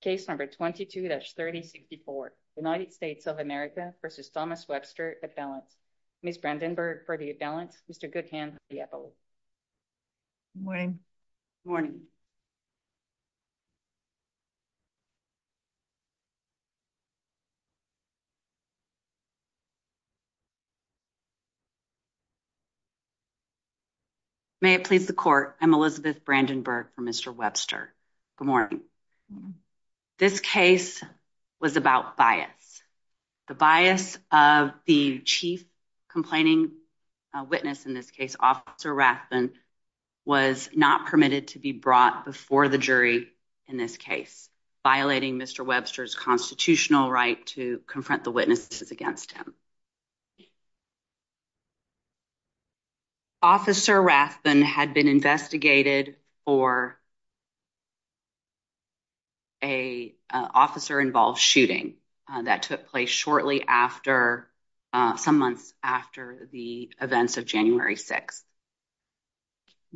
Case number 22-3064, United States of America v. Thomas Webster, at-balance. Ms. Brandenburg for the at-balance, Mr. Goodhand for the at-vote. May it please the court, I'm Elizabeth Brandenburg for Mr. Webster. Good morning. This case was about bias. The bias of the chief complaining witness in this case, Officer Rathbun, was not permitted to be brought before the jury in this case, violating Mr. Webster's constitutional right to confront the witnesses against him. Officer Rathbun had been investigated for a officer-involved shooting that took place shortly after, some months after the events of January 6th.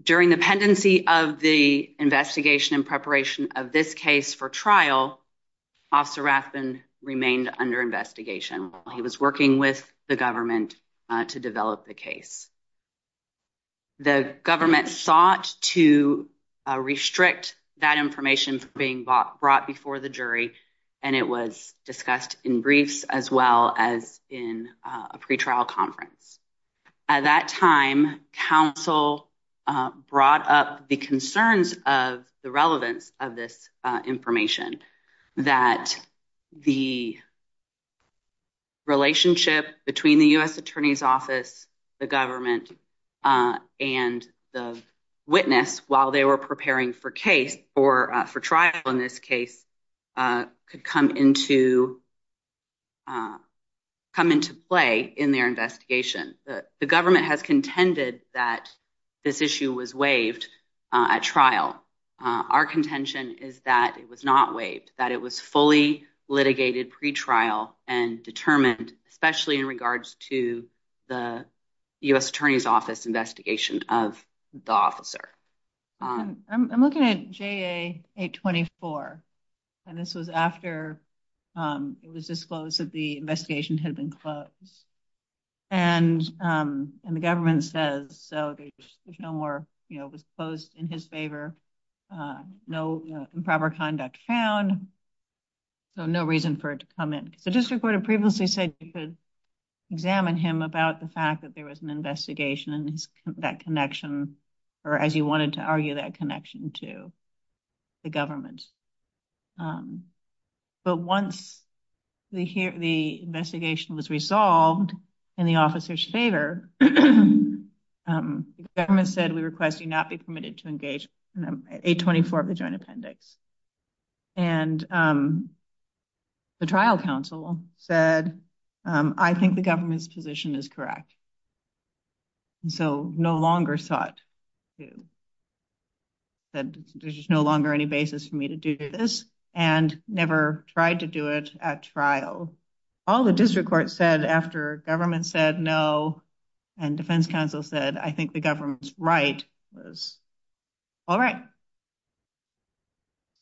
During the pendency of the investigation and preparation of this case for trial, Officer Rathbun remained under investigation while he was working with the government to develop the case. The government sought to restrict that information from being brought before the jury, and it was discussed in briefs as well as in a pretrial conference. At that time, counsel brought up the concerns of the relevance of this information, that the relationship between the U.S. Attorney's Office, the government, and the witness while they were preparing for trial in this case could come into play in their investigation. The government has contended that this issue was waived at trial. Our contention is that it was waived, that it was fully litigated pretrial and determined, especially in regards to the U.S. Attorney's Office investigation of the officer. I'm looking at JA 824, and this was after it was disclosed that the investigation had been closed. And the government says, there's no more, you know, it was closed in his favor, no improper conduct found, so no reason for it to come in. The district court had previously said you could examine him about the fact that there was an investigation and that connection, or as you wanted to argue, that connection to the government. But once the investigation was resolved in the officer's favor, the government said, we request you not be permitted to engage in JA 824 of the joint appendix. And the trial counsel said, I think the government's position is correct. So no longer sought to, there's just no longer any basis for me to do this, and never tried to do it at trial. All the district court said after government said no, and defense counsel said, I think the government's right was, all right.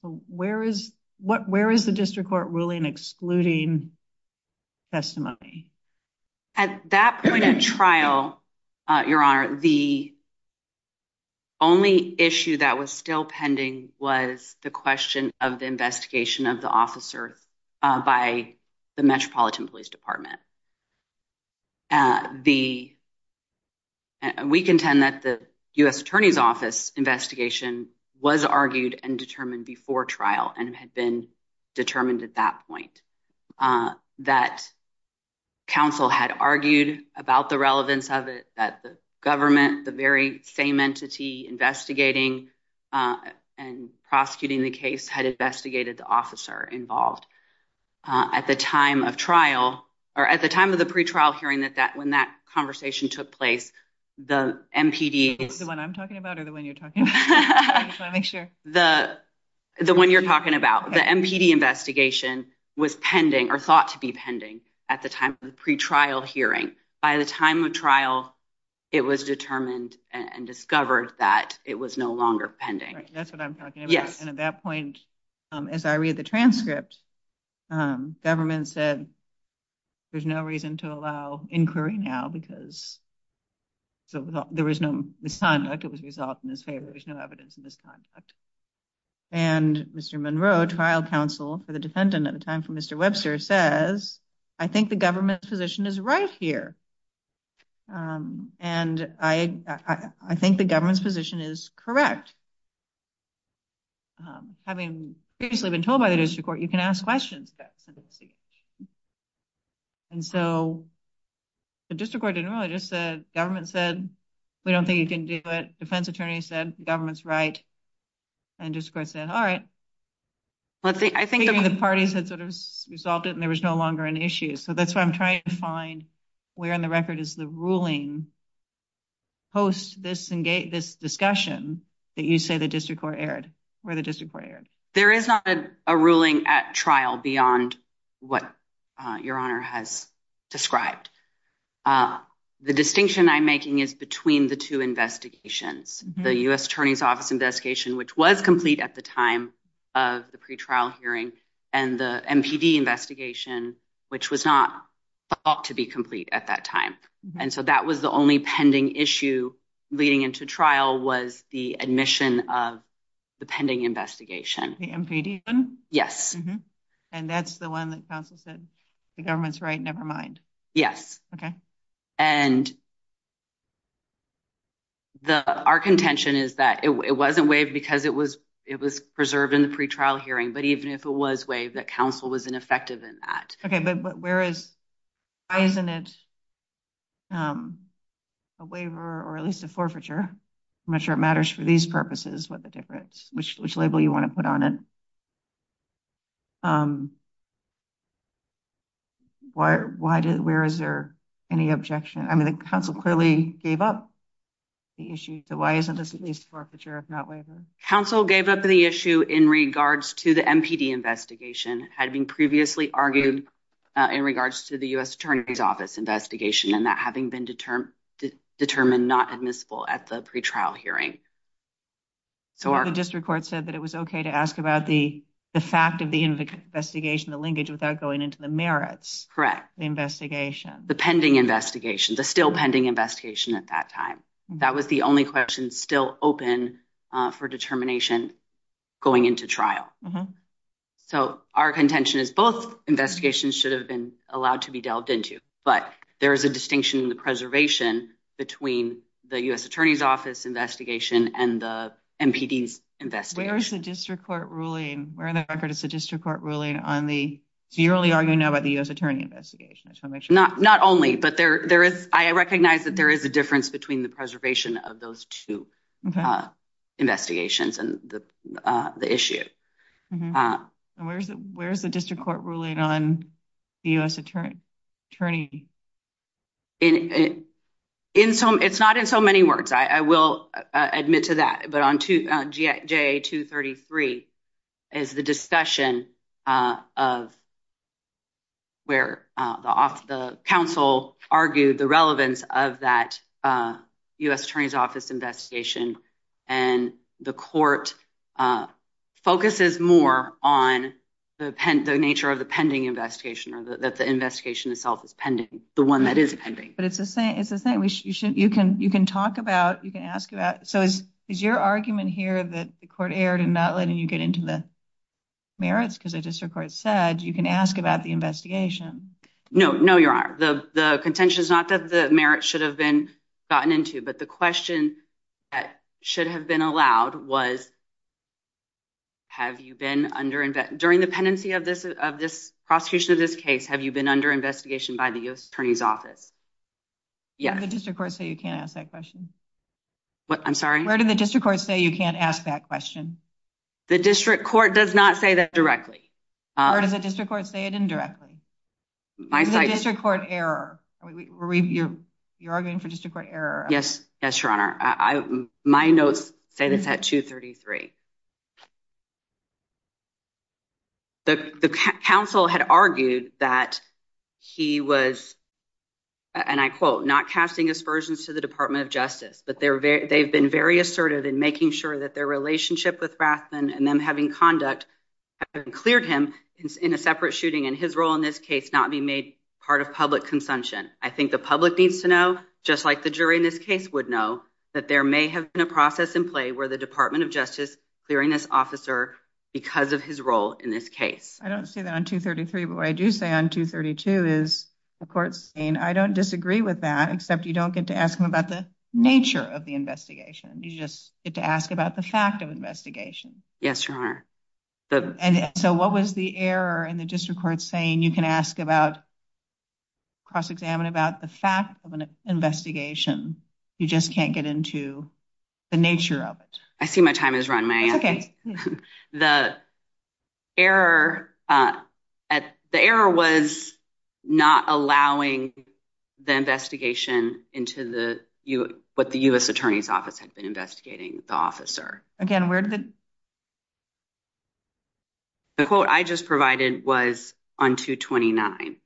So where is, where is the district court ruling excluding testimony? At that point in trial, your honor, the only issue that was still pending was the question of the investigation of the officers by the Metropolitan Police Department. The, we contend that the U.S. Attorney's Office investigation was argued and determined before trial and had been determined at that point. That counsel had argued about the relevance of it, that the government, the very same entity investigating and prosecuting the case had investigated the officer involved. At the time of trial, or at the time of the pre-trial hearing that that, when that conversation took place, the MPD. The one I'm talking about or the one you're talking about? I just want to make sure. The, the one you're talking about. The MPD investigation was pending or thought to be pending at the time of the pre-trial hearing. By the time of trial, it was determined and discovered that it was no longer pending. That's what I'm talking about. And at that point, as I read the transcript, government said, there's no reason to allow inquiry now because, so there was no misconduct. It was resolved in his favor. There's no evidence of misconduct. And Mr. Monroe, trial counsel for the defendant at the time for Mr. Webster says, I think the government's position is right here. And I, I think the government's position is correct. Having previously been told by the district court, you can ask questions. And so the district court didn't really just said, government said, we don't think you can do it. Defense attorney said, government's right. And just said, all right. Let's see. I think the parties had sort of resolved it and there was no longer an issue. So that's what I'm trying to find where in the record is the ruling post this and gate this discussion that you say the district court aired where the district court aired. There is not a ruling at trial beyond what your honor has described. The distinction I'm making is between the two investigations, the U.S. attorney's investigation, which was complete at the time of the pretrial hearing and the MPD investigation, which was not thought to be complete at that time. And so that was the only pending issue leading into trial was the admission of the pending investigation. The MPD one? Yes. And that's the one that counsel said the government's right. Nevermind. Yes. Okay. And the, our contention is that it wasn't waived because it was, it was preserved in the pretrial hearing. But even if it was waived, that counsel was ineffective in that. Okay. But where is, why isn't it a waiver or at least a forfeiture? I'm not sure it matters for these purposes. What the difference, which, which label you want to put on it? Why, why did, where is there any objection? I mean, counsel clearly gave up the issue. So why isn't this at least forfeiture? If not waiver counsel gave up the issue in regards to the MPD investigation had been previously argued in regards to the U.S. attorney's office investigation and that having been determined, determined, not admissible at the pretrial hearing. So the district court said that it was okay to ask about the, the fact of the investigation, the linkage without going into the merits, correct. The pending investigation, the still pending investigation at that time, that was the only question still open for determination going into trial. So our contention is both investigations should have been allowed to be delved into, but there is a distinction in the preservation between the U.S. attorney's office investigation and the MPDs investigation. Where is the district court ruling? Where in the record is the district court ruling on the, you're only arguing now about the U.S. attorney investigation. Not, not only, but there, there is, I recognize that there is a difference between the preservation of those two investigations and the, the issue. Where's the, where's the district court ruling on the U.S. attorney? In, in some, it's not in so many words. I, I will admit to that, but on GA 233 is the discussion of where the off, the council argued the relevance of that U.S. attorney's office investigation. And the court focuses more on the pen, the nature of the pending investigation or the, that the investigation itself is pending, the one that is pending. But it's the same, it's the same. You should, you can, you can talk about, you can ask about, so is, is your argument here that the court erred in not letting you get into the merits because the district court said you can ask about the investigation? No, no, Your Honor. The, the contention is not that the merits should have been gotten into, but the question that should have been allowed was, have you been under, during the pendency of this, of this prosecution of this case, have you been under investigation by the U.S. attorney's office? Yeah. Where did the district court say you can't ask that question? What, I'm sorry? Where did the district court say you can't ask that question? The district court does not say that directly. Or does the district court say it indirectly? My side. Is the district court error? Are we, are we, you're, you're arguing for district court error? Yes, yes, Your Honor. I, my notes say this at 2.33. The, the counsel had argued that he was, and I quote, not casting aspersions to the Department of Justice, but they're very, they've been very assertive in making sure that their relationship with Rathbun and them having conduct cleared him in a separate shooting and his role in this case, not being made part of public consumption. I think the public needs to know, just like the case would know, that there may have been a process in play where the Department of Justice clearing this officer because of his role in this case. I don't say that on 2.33, but what I do say on 2.32 is the court's saying, I don't disagree with that, except you don't get to ask them about the nature of the investigation. You just get to ask about the fact of investigation. Yes, Your Honor. And so what was the error in the district court saying you can ask about, cross-examine about the fact of an investigation. You just can't get into the nature of it. I see my time has run. The error at, the error was not allowing the investigation into the, what the U.S. Attorney's Office had been investigating the officer. Again, where did the, the quote I just provided was on 2.29.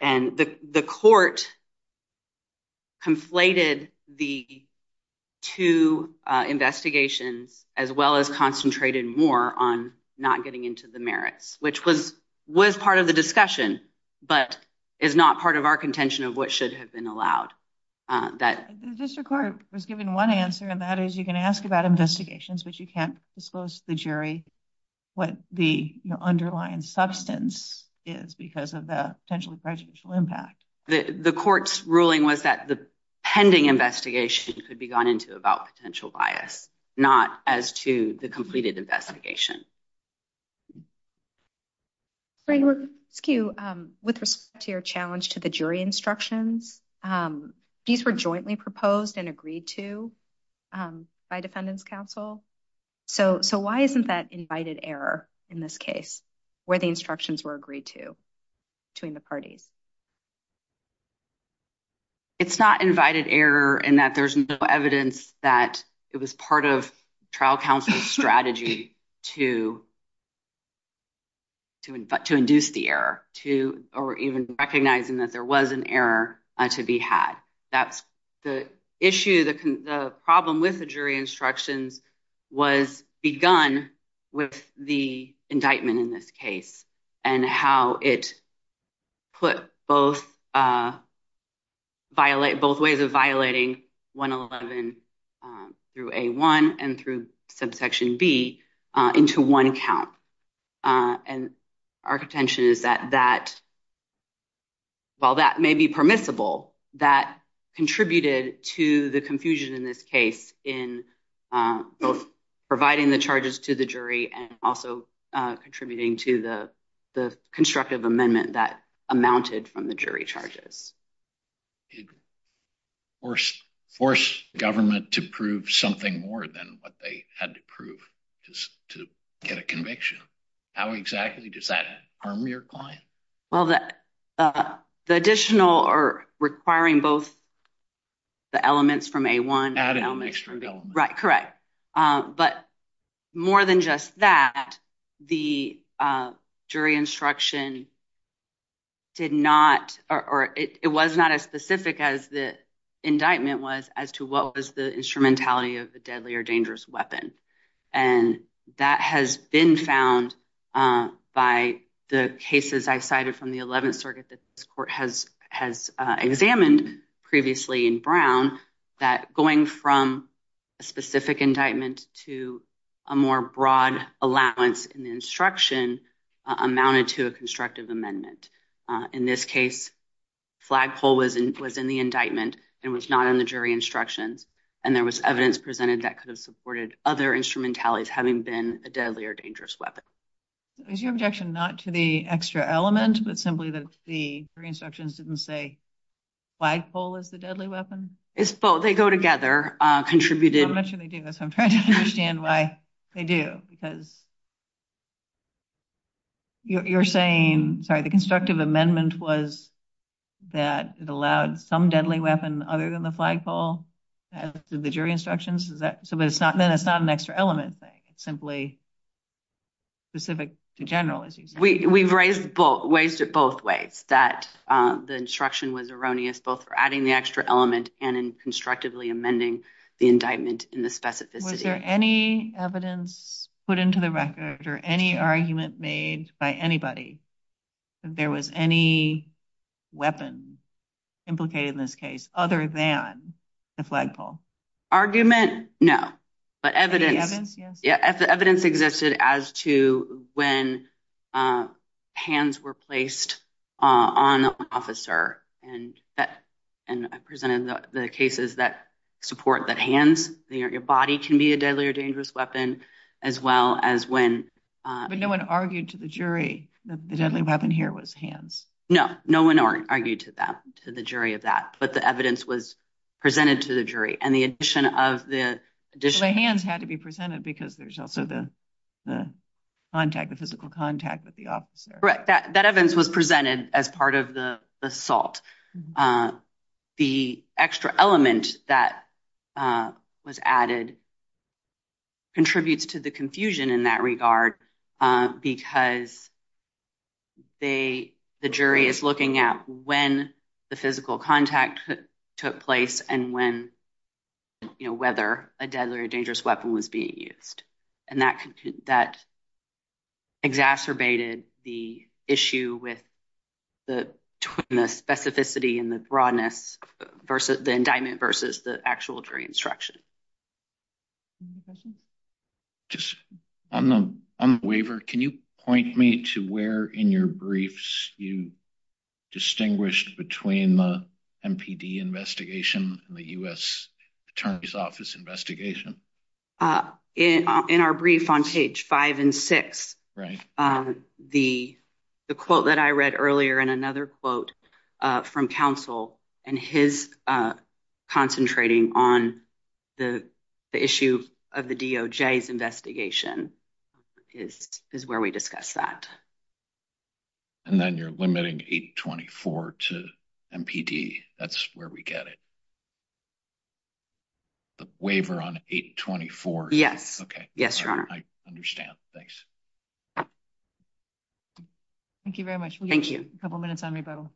And the, the court conflated the two investigations as well as concentrated more on not getting into the merits, which was, was part of the discussion, but is not part of our contention of what should have been allowed. The district court was given one answer, and that is you can ask about is because of the potentially prejudicial impact. The court's ruling was that the pending investigation could be gone into about potential bias, not as to the completed investigation. With respect to your challenge to the jury instructions, these were jointly proposed and agreed to by defendants counsel. So, so why isn't that invited error in this case where the instructions were agreed to between the parties? It's not invited error in that there's no evidence that it was part of trial counsel's strategy to, to, to induce the error to, or even recognizing that there was an error to be had. That's the issue, the problem with the jury instructions was begun with the indictment in this case, and how it put both violate both ways of violating 111 through A1 and through subsection B into one account. And our contention is that that, while that may be permissible, that contributed to the confusion in this case in both providing the charges to the jury and also contributing to the, the constructive amendment that amounted from the jury charges. Force government to prove something more than what they had to prove to get a conviction. How exactly does that harm your client? Well, the, the additional or requiring both the elements from A1 right, correct. But more than just that, the jury instruction did not, or it was not as specific as the indictment was as to what was the instrumentality of the deadly or dangerous weapon. And that has been found by the cases I cited from the 11th circuit that this court has, has examined previously in Brown, that going from a specific indictment to a more broad allowance in the instruction amounted to a constructive amendment. In this case, flagpole was in, was in the indictment and was not in the jury instructions. And there was evidence presented that could have supported other instrumentalities having been a deadly or dangerous weapon. Is your objection not to the extra element, but simply that the three instructions didn't say flagpole is the deadly weapon? It's both. They go together, contributed. I'm not sure they do this. I'm trying to understand why they do, because you're saying, sorry, the constructive amendment was that it allowed some deadly weapon other than the flagpole to the jury instructions. Is that so? But it's not, then it's not an extra element thing. It's simply specific to general, as you say. We've raised both ways, both ways that the instruction was erroneous, both for adding the extra element and in constructively amending the indictment in the specificity. Was there any evidence put into the record or any argument made by anybody? There was any weapon implicated in this case other than the flagpole? Argument? No. But evidence, evidence existed as to when hands were placed on officer and that and presented the cases that support that hands, your body can be a deadly or dangerous weapon, as well as when. But no one argued to the jury that the deadly weapon here was hands. No, no one argued to that, to the jury of that. But the evidence was presented to the jury and the addition of the additional. The hands had to be presented because there's also the contact, the physical contact with the officer. Correct. That evidence was presented as part of the assault. The extra element that was added. Contributes to the confusion in that regard, because. They, the jury is looking at when the physical contact took place and when, you know, whether a deadly or dangerous weapon was being used. And that that. Exacerbated the issue with the specificity and the broadness versus the indictment versus the actual jury instruction. Just on the waiver, can you point me to where in your briefs you distinguished between the MPD investigation and the U.S. Attorney's Office investigation? Uh, in our brief on page five and six. Right. The, the quote that I read earlier and another quote from counsel and his concentrating on the issue of the DOJ's investigation is where we discuss that. And then you're limiting 824 to MPD. That's where we get it. The waiver on 824. Yes. Okay. Yes, your honor. I understand. Thanks. Thank you very much. Thank you. A couple minutes on rebuttal.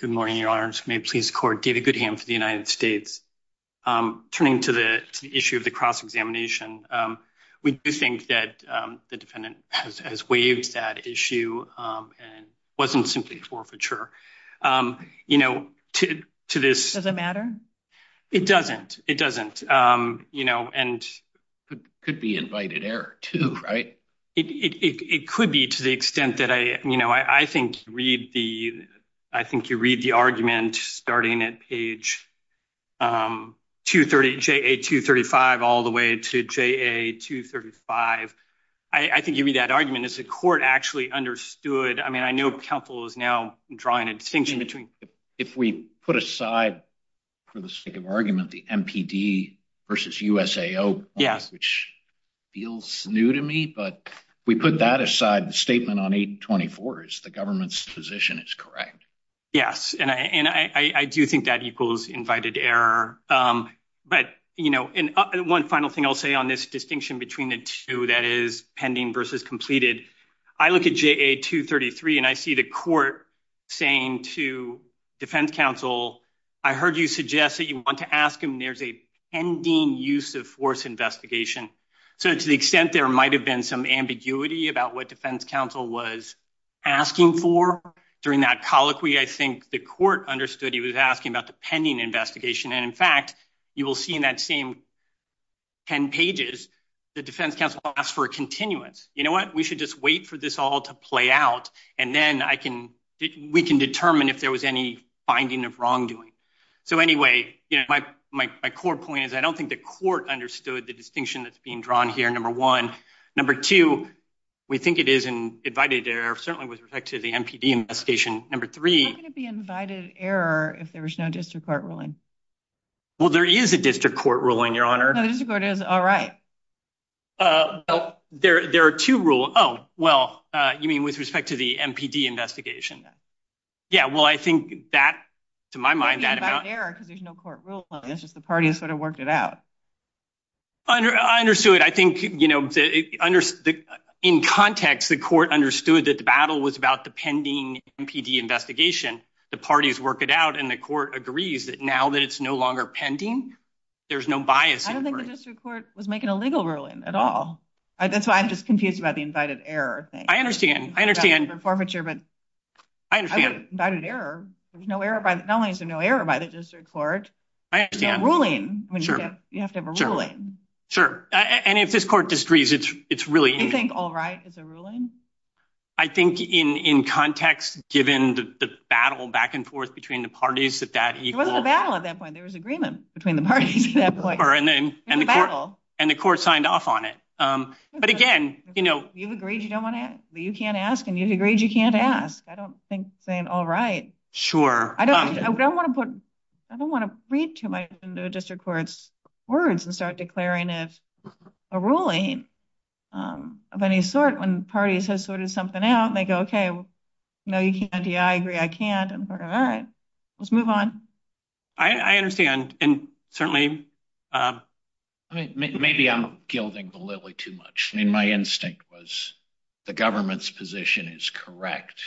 Good morning, your honors. May it please the court. David Goodham for the United States. Turning to the issue of the cross-examination, we do think that the defendant has waived that issue and wasn't simply forfeiture. You know, to this. Does it matter? It doesn't. It doesn't. You know, and. Could be invited error too, right? It could be to the extent that I, you know, I think read the, I think you read the argument starting at page 230, J. A. 235, all the way to J. A. 235. I think you read that argument as a court actually understood. I mean, I know counsel is now drawing a distinction between. If we put aside for the sake of argument, the MPD versus USAO. Yes. Which feels new to me, but we put that aside. The statement on 824 is the government's position is correct. Yes, and I do think that equals invited error. But, you know, and one final thing I'll say on this distinction between the two that is pending versus completed. I look at J. A. 233 and I see the court saying to defense counsel, I heard you suggest that you want to ask him. There's a pending use of force investigation. So to the extent there might have been some ambiguity about what defense counsel was. Asking for during that colloquy, I think the court understood he was asking about the pending investigation, and in fact, you will see in that same. 10 pages, the defense counsel asked for a continuance. You know what? We should just wait for this all to play out and then I can we can determine if there was any finding of wrongdoing. So anyway, my core point is I don't think the court understood the distinction that's being drawn here. Number one, number two, we think it is an invited error, certainly with respect to the MPD investigation. Number three, it would be invited error if there was no district court ruling. Well, there is a district court ruling, your honor. The district court is all right. There are two rule. Oh, well, you mean with respect to the MPD investigation? Yeah, well, I think that to my mind, that about error because there's no court ruling. It's just the party has sort of worked it out. I understood. I think, you know, in context, the court understood that the battle was about the pending MPD investigation. The parties work it out and the court agrees that now that it's no longer pending, there's no bias. I don't think the district court was making a legal ruling at all. That's why I'm just confused about the invited error thing. I understand. I understand forfeiture, but I understand that an error. There's no error. Not only is there no error by the district court, I understand ruling. I mean, you have to have a ruling. Sure. And if this court disagrees, it's it's really you think. All right. It's a ruling, I think, in context, given the battle back and forth between the parties that that wasn't a battle at that point. There was agreement between the parties at that point and the battle and the court signed off on it. But again, you know, you've agreed you don't want to you can't ask and you agreed you can't ask. I don't think saying all right. Sure. I don't want to put I don't want to read to my district court's words and start declaring if a ruling of any sort when parties has sorted something out and they go, OK, no, you can't do I agree. I can't. And all right, let's move on. I understand. And certainly, I mean, maybe I'm gilding the lily too much. I mean, my instinct was the government's position is correct,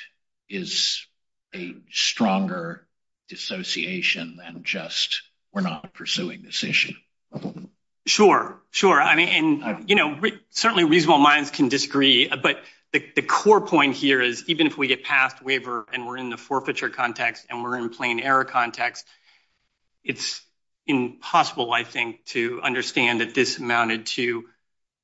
is a stronger dissociation than just we're not pursuing this issue. Sure, sure. I mean, you know, certainly reasonable minds can disagree. But the core point here is even if we get passed waiver and we're in the forfeiture context and we're in plain error context, it's impossible, I think, to understand that this amounted to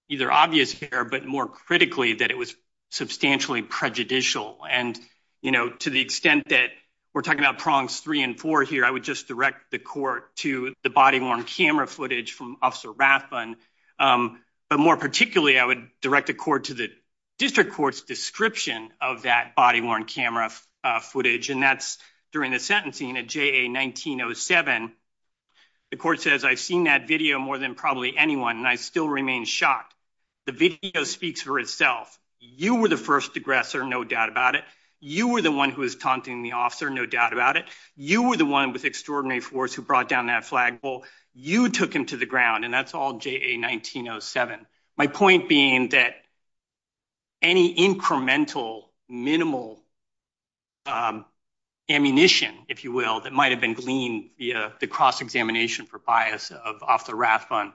either obvious error, but more critically, that it was substantially prejudicial. And, you know, to the extent that we're talking about prongs three and four here, I would just direct the court to the body worn camera footage from Officer Rathbun. But more particularly, I would direct the court to the district court's description of that body worn camera footage. And that's during the sentencing at J.A. 1907. The court says, I've seen that video more than probably anyone, and I still remain shocked. The video speaks for itself. You were the first aggressor, no doubt about it. You were the one who was taunting the officer, no doubt about it. You were the one with extraordinary force who brought down that flagpole. You took him to the ground. And that's all J.A. 1907. My point being that any incremental, minimal ammunition, if you will, that might have been gleaned via the cross-examination for bias of Officer Rathbun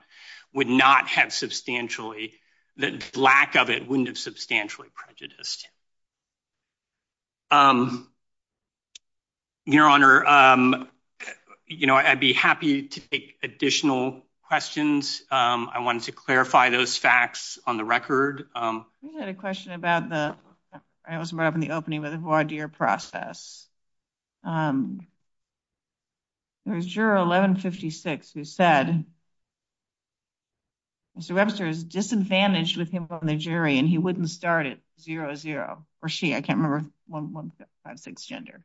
would not have substantially, the lack of it wouldn't have substantially prejudiced. Your Honor, you know, I'd be happy to take additional questions. I wanted to clarify those facts on the record. We had a question about the, it was brought up in the opening with the voir dire process. There was juror 1156 who said, Mr. Webster is disadvantaged with him on the jury, and he wouldn't start at 00. Or she, I can't remember, 1156 gender.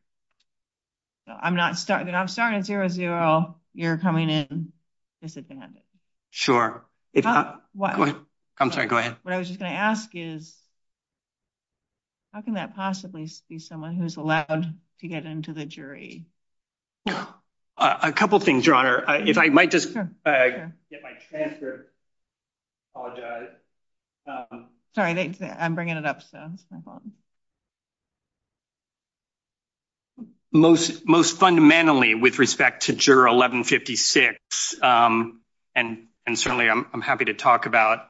I'm not starting, I'm starting at 00, you're coming in disadvantaged. Sure. I'm sorry, go ahead. What I was just going to ask is, how can that possibly be someone who's allowed to get into the jury? A couple of things, Your Honor. If I might just get my transfer. Sorry, I'm bringing it up. That's my fault. Most fundamentally with respect to juror 1156, and certainly I'm happy to talk about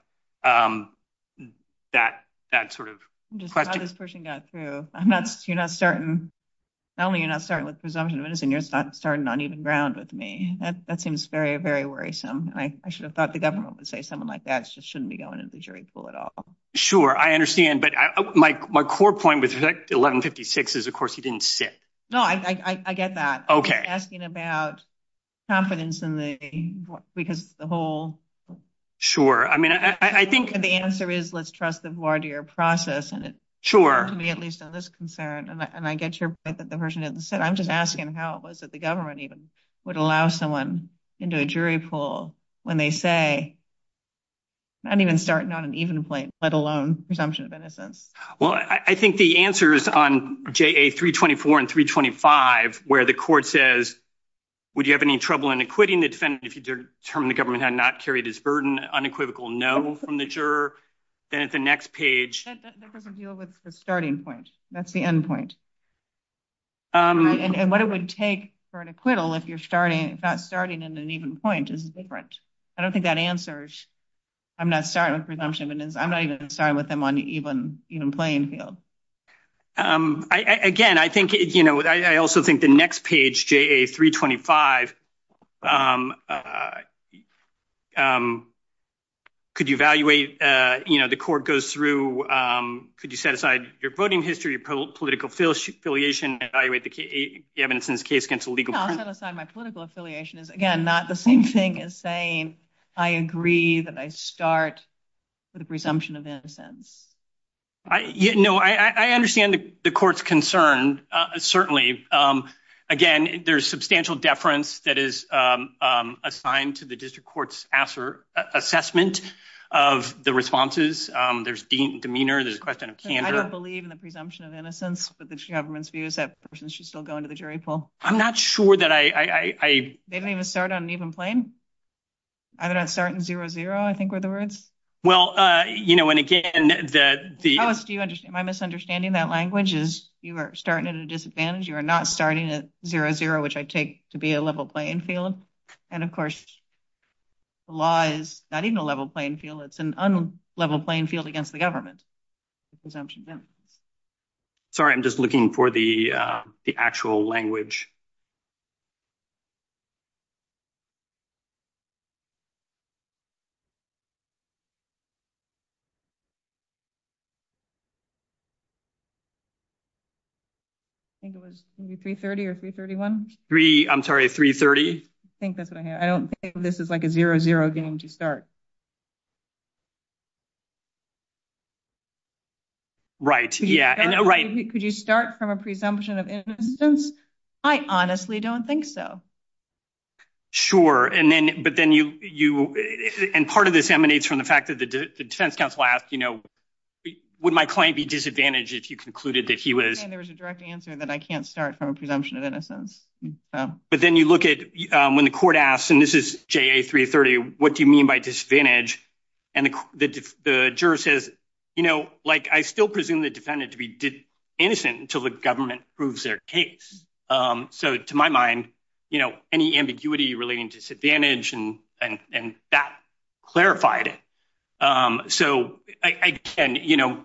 that sort of question. Just how this person got through. I'm not, you're not starting, not only you're not starting with presumption of innocence, you're starting on uneven ground with me. That seems very, very worrisome. I should have thought the government would say someone like that just shouldn't be going into the jury pool at all. Sure, I understand. But my core point with 1156 is, of course, he didn't sit. No, I get that. Okay. Asking about confidence in the, because the whole. Sure. I mean, I think the answer is, let's trust the voir dire process. And to me, at least on this concern, and I get your point that the person didn't sit. I'm just asking how it was that the government even would allow someone into a jury pool when they say not even starting on an even plate, let alone presumption of innocence. Well, I think the answer is on JA 324 and 325, where the court says. Would you have any trouble in acquitting the defendant if you determine the government had not carried his burden unequivocal? No, from the juror. Then at the next page, that doesn't deal with the starting point. That's the end point. And what it would take for an acquittal if you're starting, not starting in an even point is different. I don't think that answers. I'm not starting with presumption of innocence. I'm not even starting with them on even playing field. Again, I think I also think the next page, JA 325. Could you evaluate the court goes through? Could you set aside your voting history, political affiliation, evaluate the evidence in this case against a legal. My political affiliation is, again, not the same thing as saying I agree that I start with a presumption of innocence. No, I understand the court's concern, certainly. Again, there's substantial deference that is assigned to the district court's assessment of the responses. There's demeanor. There's a question of candor. I don't believe in the presumption of innocence, but the government's view is that person should still go into the jury pool. I'm not sure that I they don't even start on an even plane. I don't start in zero zero. I think we're the words. Well, you know, and again, the do you understand my misunderstanding? That language is you are starting at a disadvantage. You are not starting at zero zero, which I take to be a level playing field. And, of course. Law is not even a level playing field. It's an unlevel playing field against the government. Sorry, I'm just looking for the actual language. I think it was three thirty or three thirty one three. I'm sorry. Three thirty. I think that's what I hear. I don't think this is like a zero zero game to start. Right. Yeah, right. Could you start from a presumption of innocence? I honestly don't think so. Sure. And then but then you and part of this emanates from the fact that the defense council asked, you know, would my client be disadvantaged if you concluded that he was? And there was a direct answer that I can't start from a presumption of innocence. But then you look at when the court asks, and this is three thirty. What do you mean by disadvantage? And the juror says, you know, like I still presume the defendant to be innocent until the government proves their case. So to my mind, you know, any ambiguity relating disadvantage and and that clarified it. So I can, you know.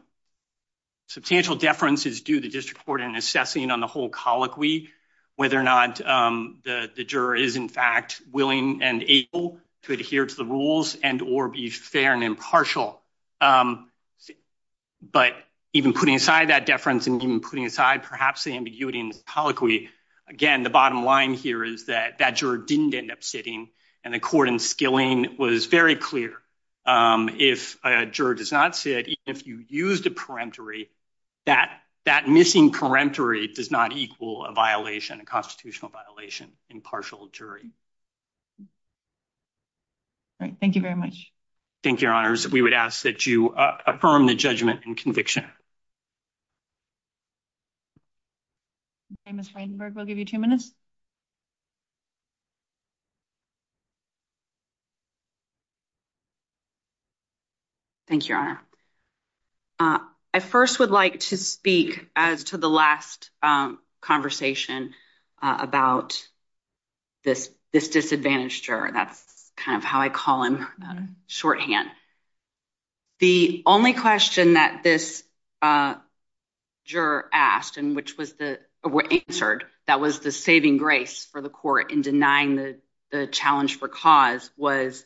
Substantial deference is due the district court in assessing on the whole colloquy, whether or not the juror is in fact willing and able to adhere to the rules and or be fair and impartial. But even putting aside that deference and even putting aside perhaps the ambiguity colloquy, again, the bottom line here is that that juror didn't end up sitting. And the court in skilling was very clear. If a juror does not sit, if you use the peremptory that that missing peremptory does not equal a violation, a constitutional violation, impartial jury. All right. Thank you very much. Thank you, your honors. We would ask that you affirm the judgment and conviction. Famous Weidenberg will give you two minutes. Thank you, your honor. I first would like to speak as to the last conversation about. This this disadvantage, that's kind of how I call him shorthand. The only question that this. Juror asked and which was the answered that was the saving grace for the court in denying the the challenge for cause was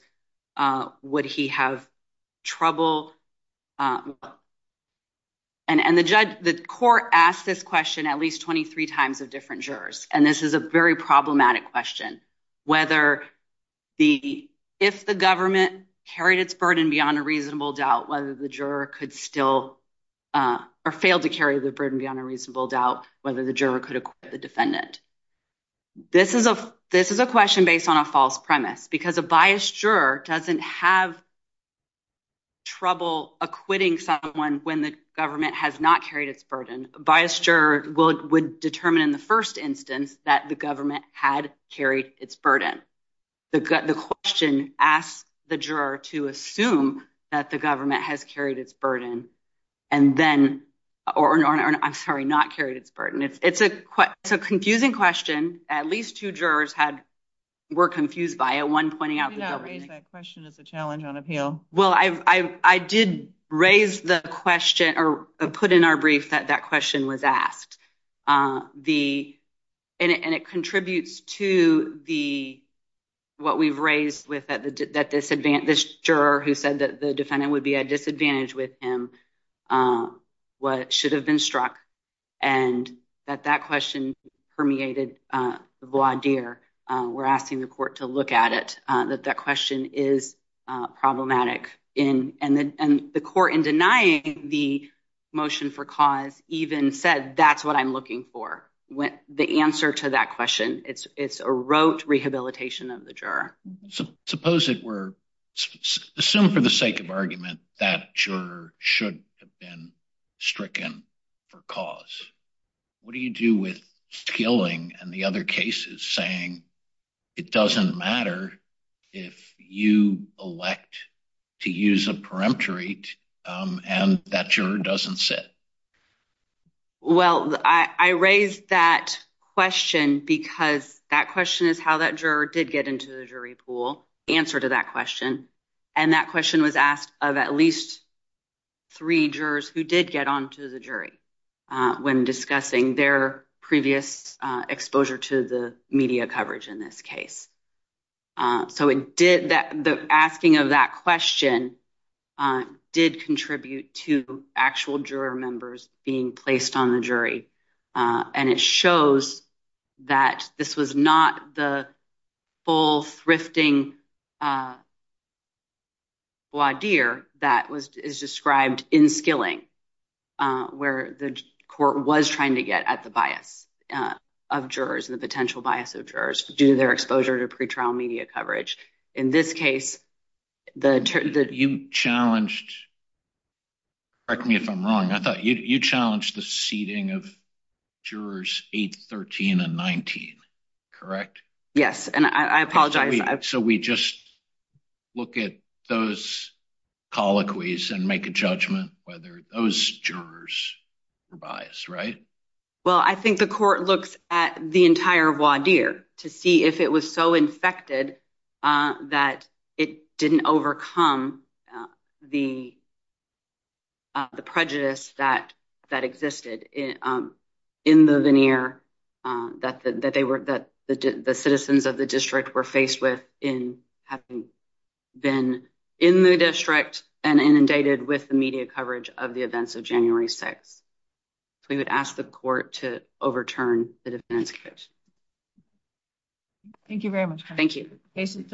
would he have trouble? And the judge, the court asked this question at least 23 times of different jurors. And this is a very problematic question, whether the if the government carried its burden beyond a reasonable doubt, whether the juror could still or failed to carry the burden beyond a reasonable doubt, whether the juror could acquit the defendant. This is a this is a question based on a false premise because a biased juror doesn't have. Trouble acquitting someone when the government has not carried its burden by a juror will would determine in the first instance that the government had carried its burden. The question asked the juror to assume that the government has carried its burden and then or I'm sorry, not carried its burden. It's a it's a confusing question. At least two jurors had were confused by a one pointing out that question is a challenge on appeal. Well, I did raise the question or put in our brief that that question was asked. The and it contributes to the what we've raised with that disadvantage. This juror who said that the defendant would be at disadvantage with him what should have been struck and that that question permeated the voir dire. We're asking the court to look at it, that that question is problematic in and the court in denying the motion for cause even said that's what I'm looking for. When the answer to that question, it's it's a rote rehabilitation of the juror. Suppose it were assumed for the sake of argument that juror should have been stricken for cause. What do you do with killing and the other cases saying it doesn't matter if you elect to use a peremptory and that juror doesn't sit? Well, I raised that question because that question is how that juror did get into the jury pool answer to that question. And that question was asked of at least three jurors who did get onto the jury when discussing their previous exposure to the media coverage in this case. So, it did that the asking of that question did contribute to actual juror members being placed on the jury. And it shows that this was not the full thrifting voir dire that was described in skilling where the court was trying to get at the bias of jurors and the potential bias of jurors due to their exposure to pretrial media coverage. In this case, the you challenged correct me if I'm wrong. I thought you challenged the seating of jurors 8, 13 and 19. Correct? Yes. And I apologize. So, we just look at those colloquies and make a judgment whether those jurors were biased, right? Well, I think the court looks at the entire voir dire to see if it was so infected that it didn't overcome the prejudice that existed in the veneer that the citizens of the district were faced with in having been in the district and inundated with the media coverage of the events of January 6. So, we would ask the court to overturn the defendant's case. Thank you very much. Thank you. Case is submitted.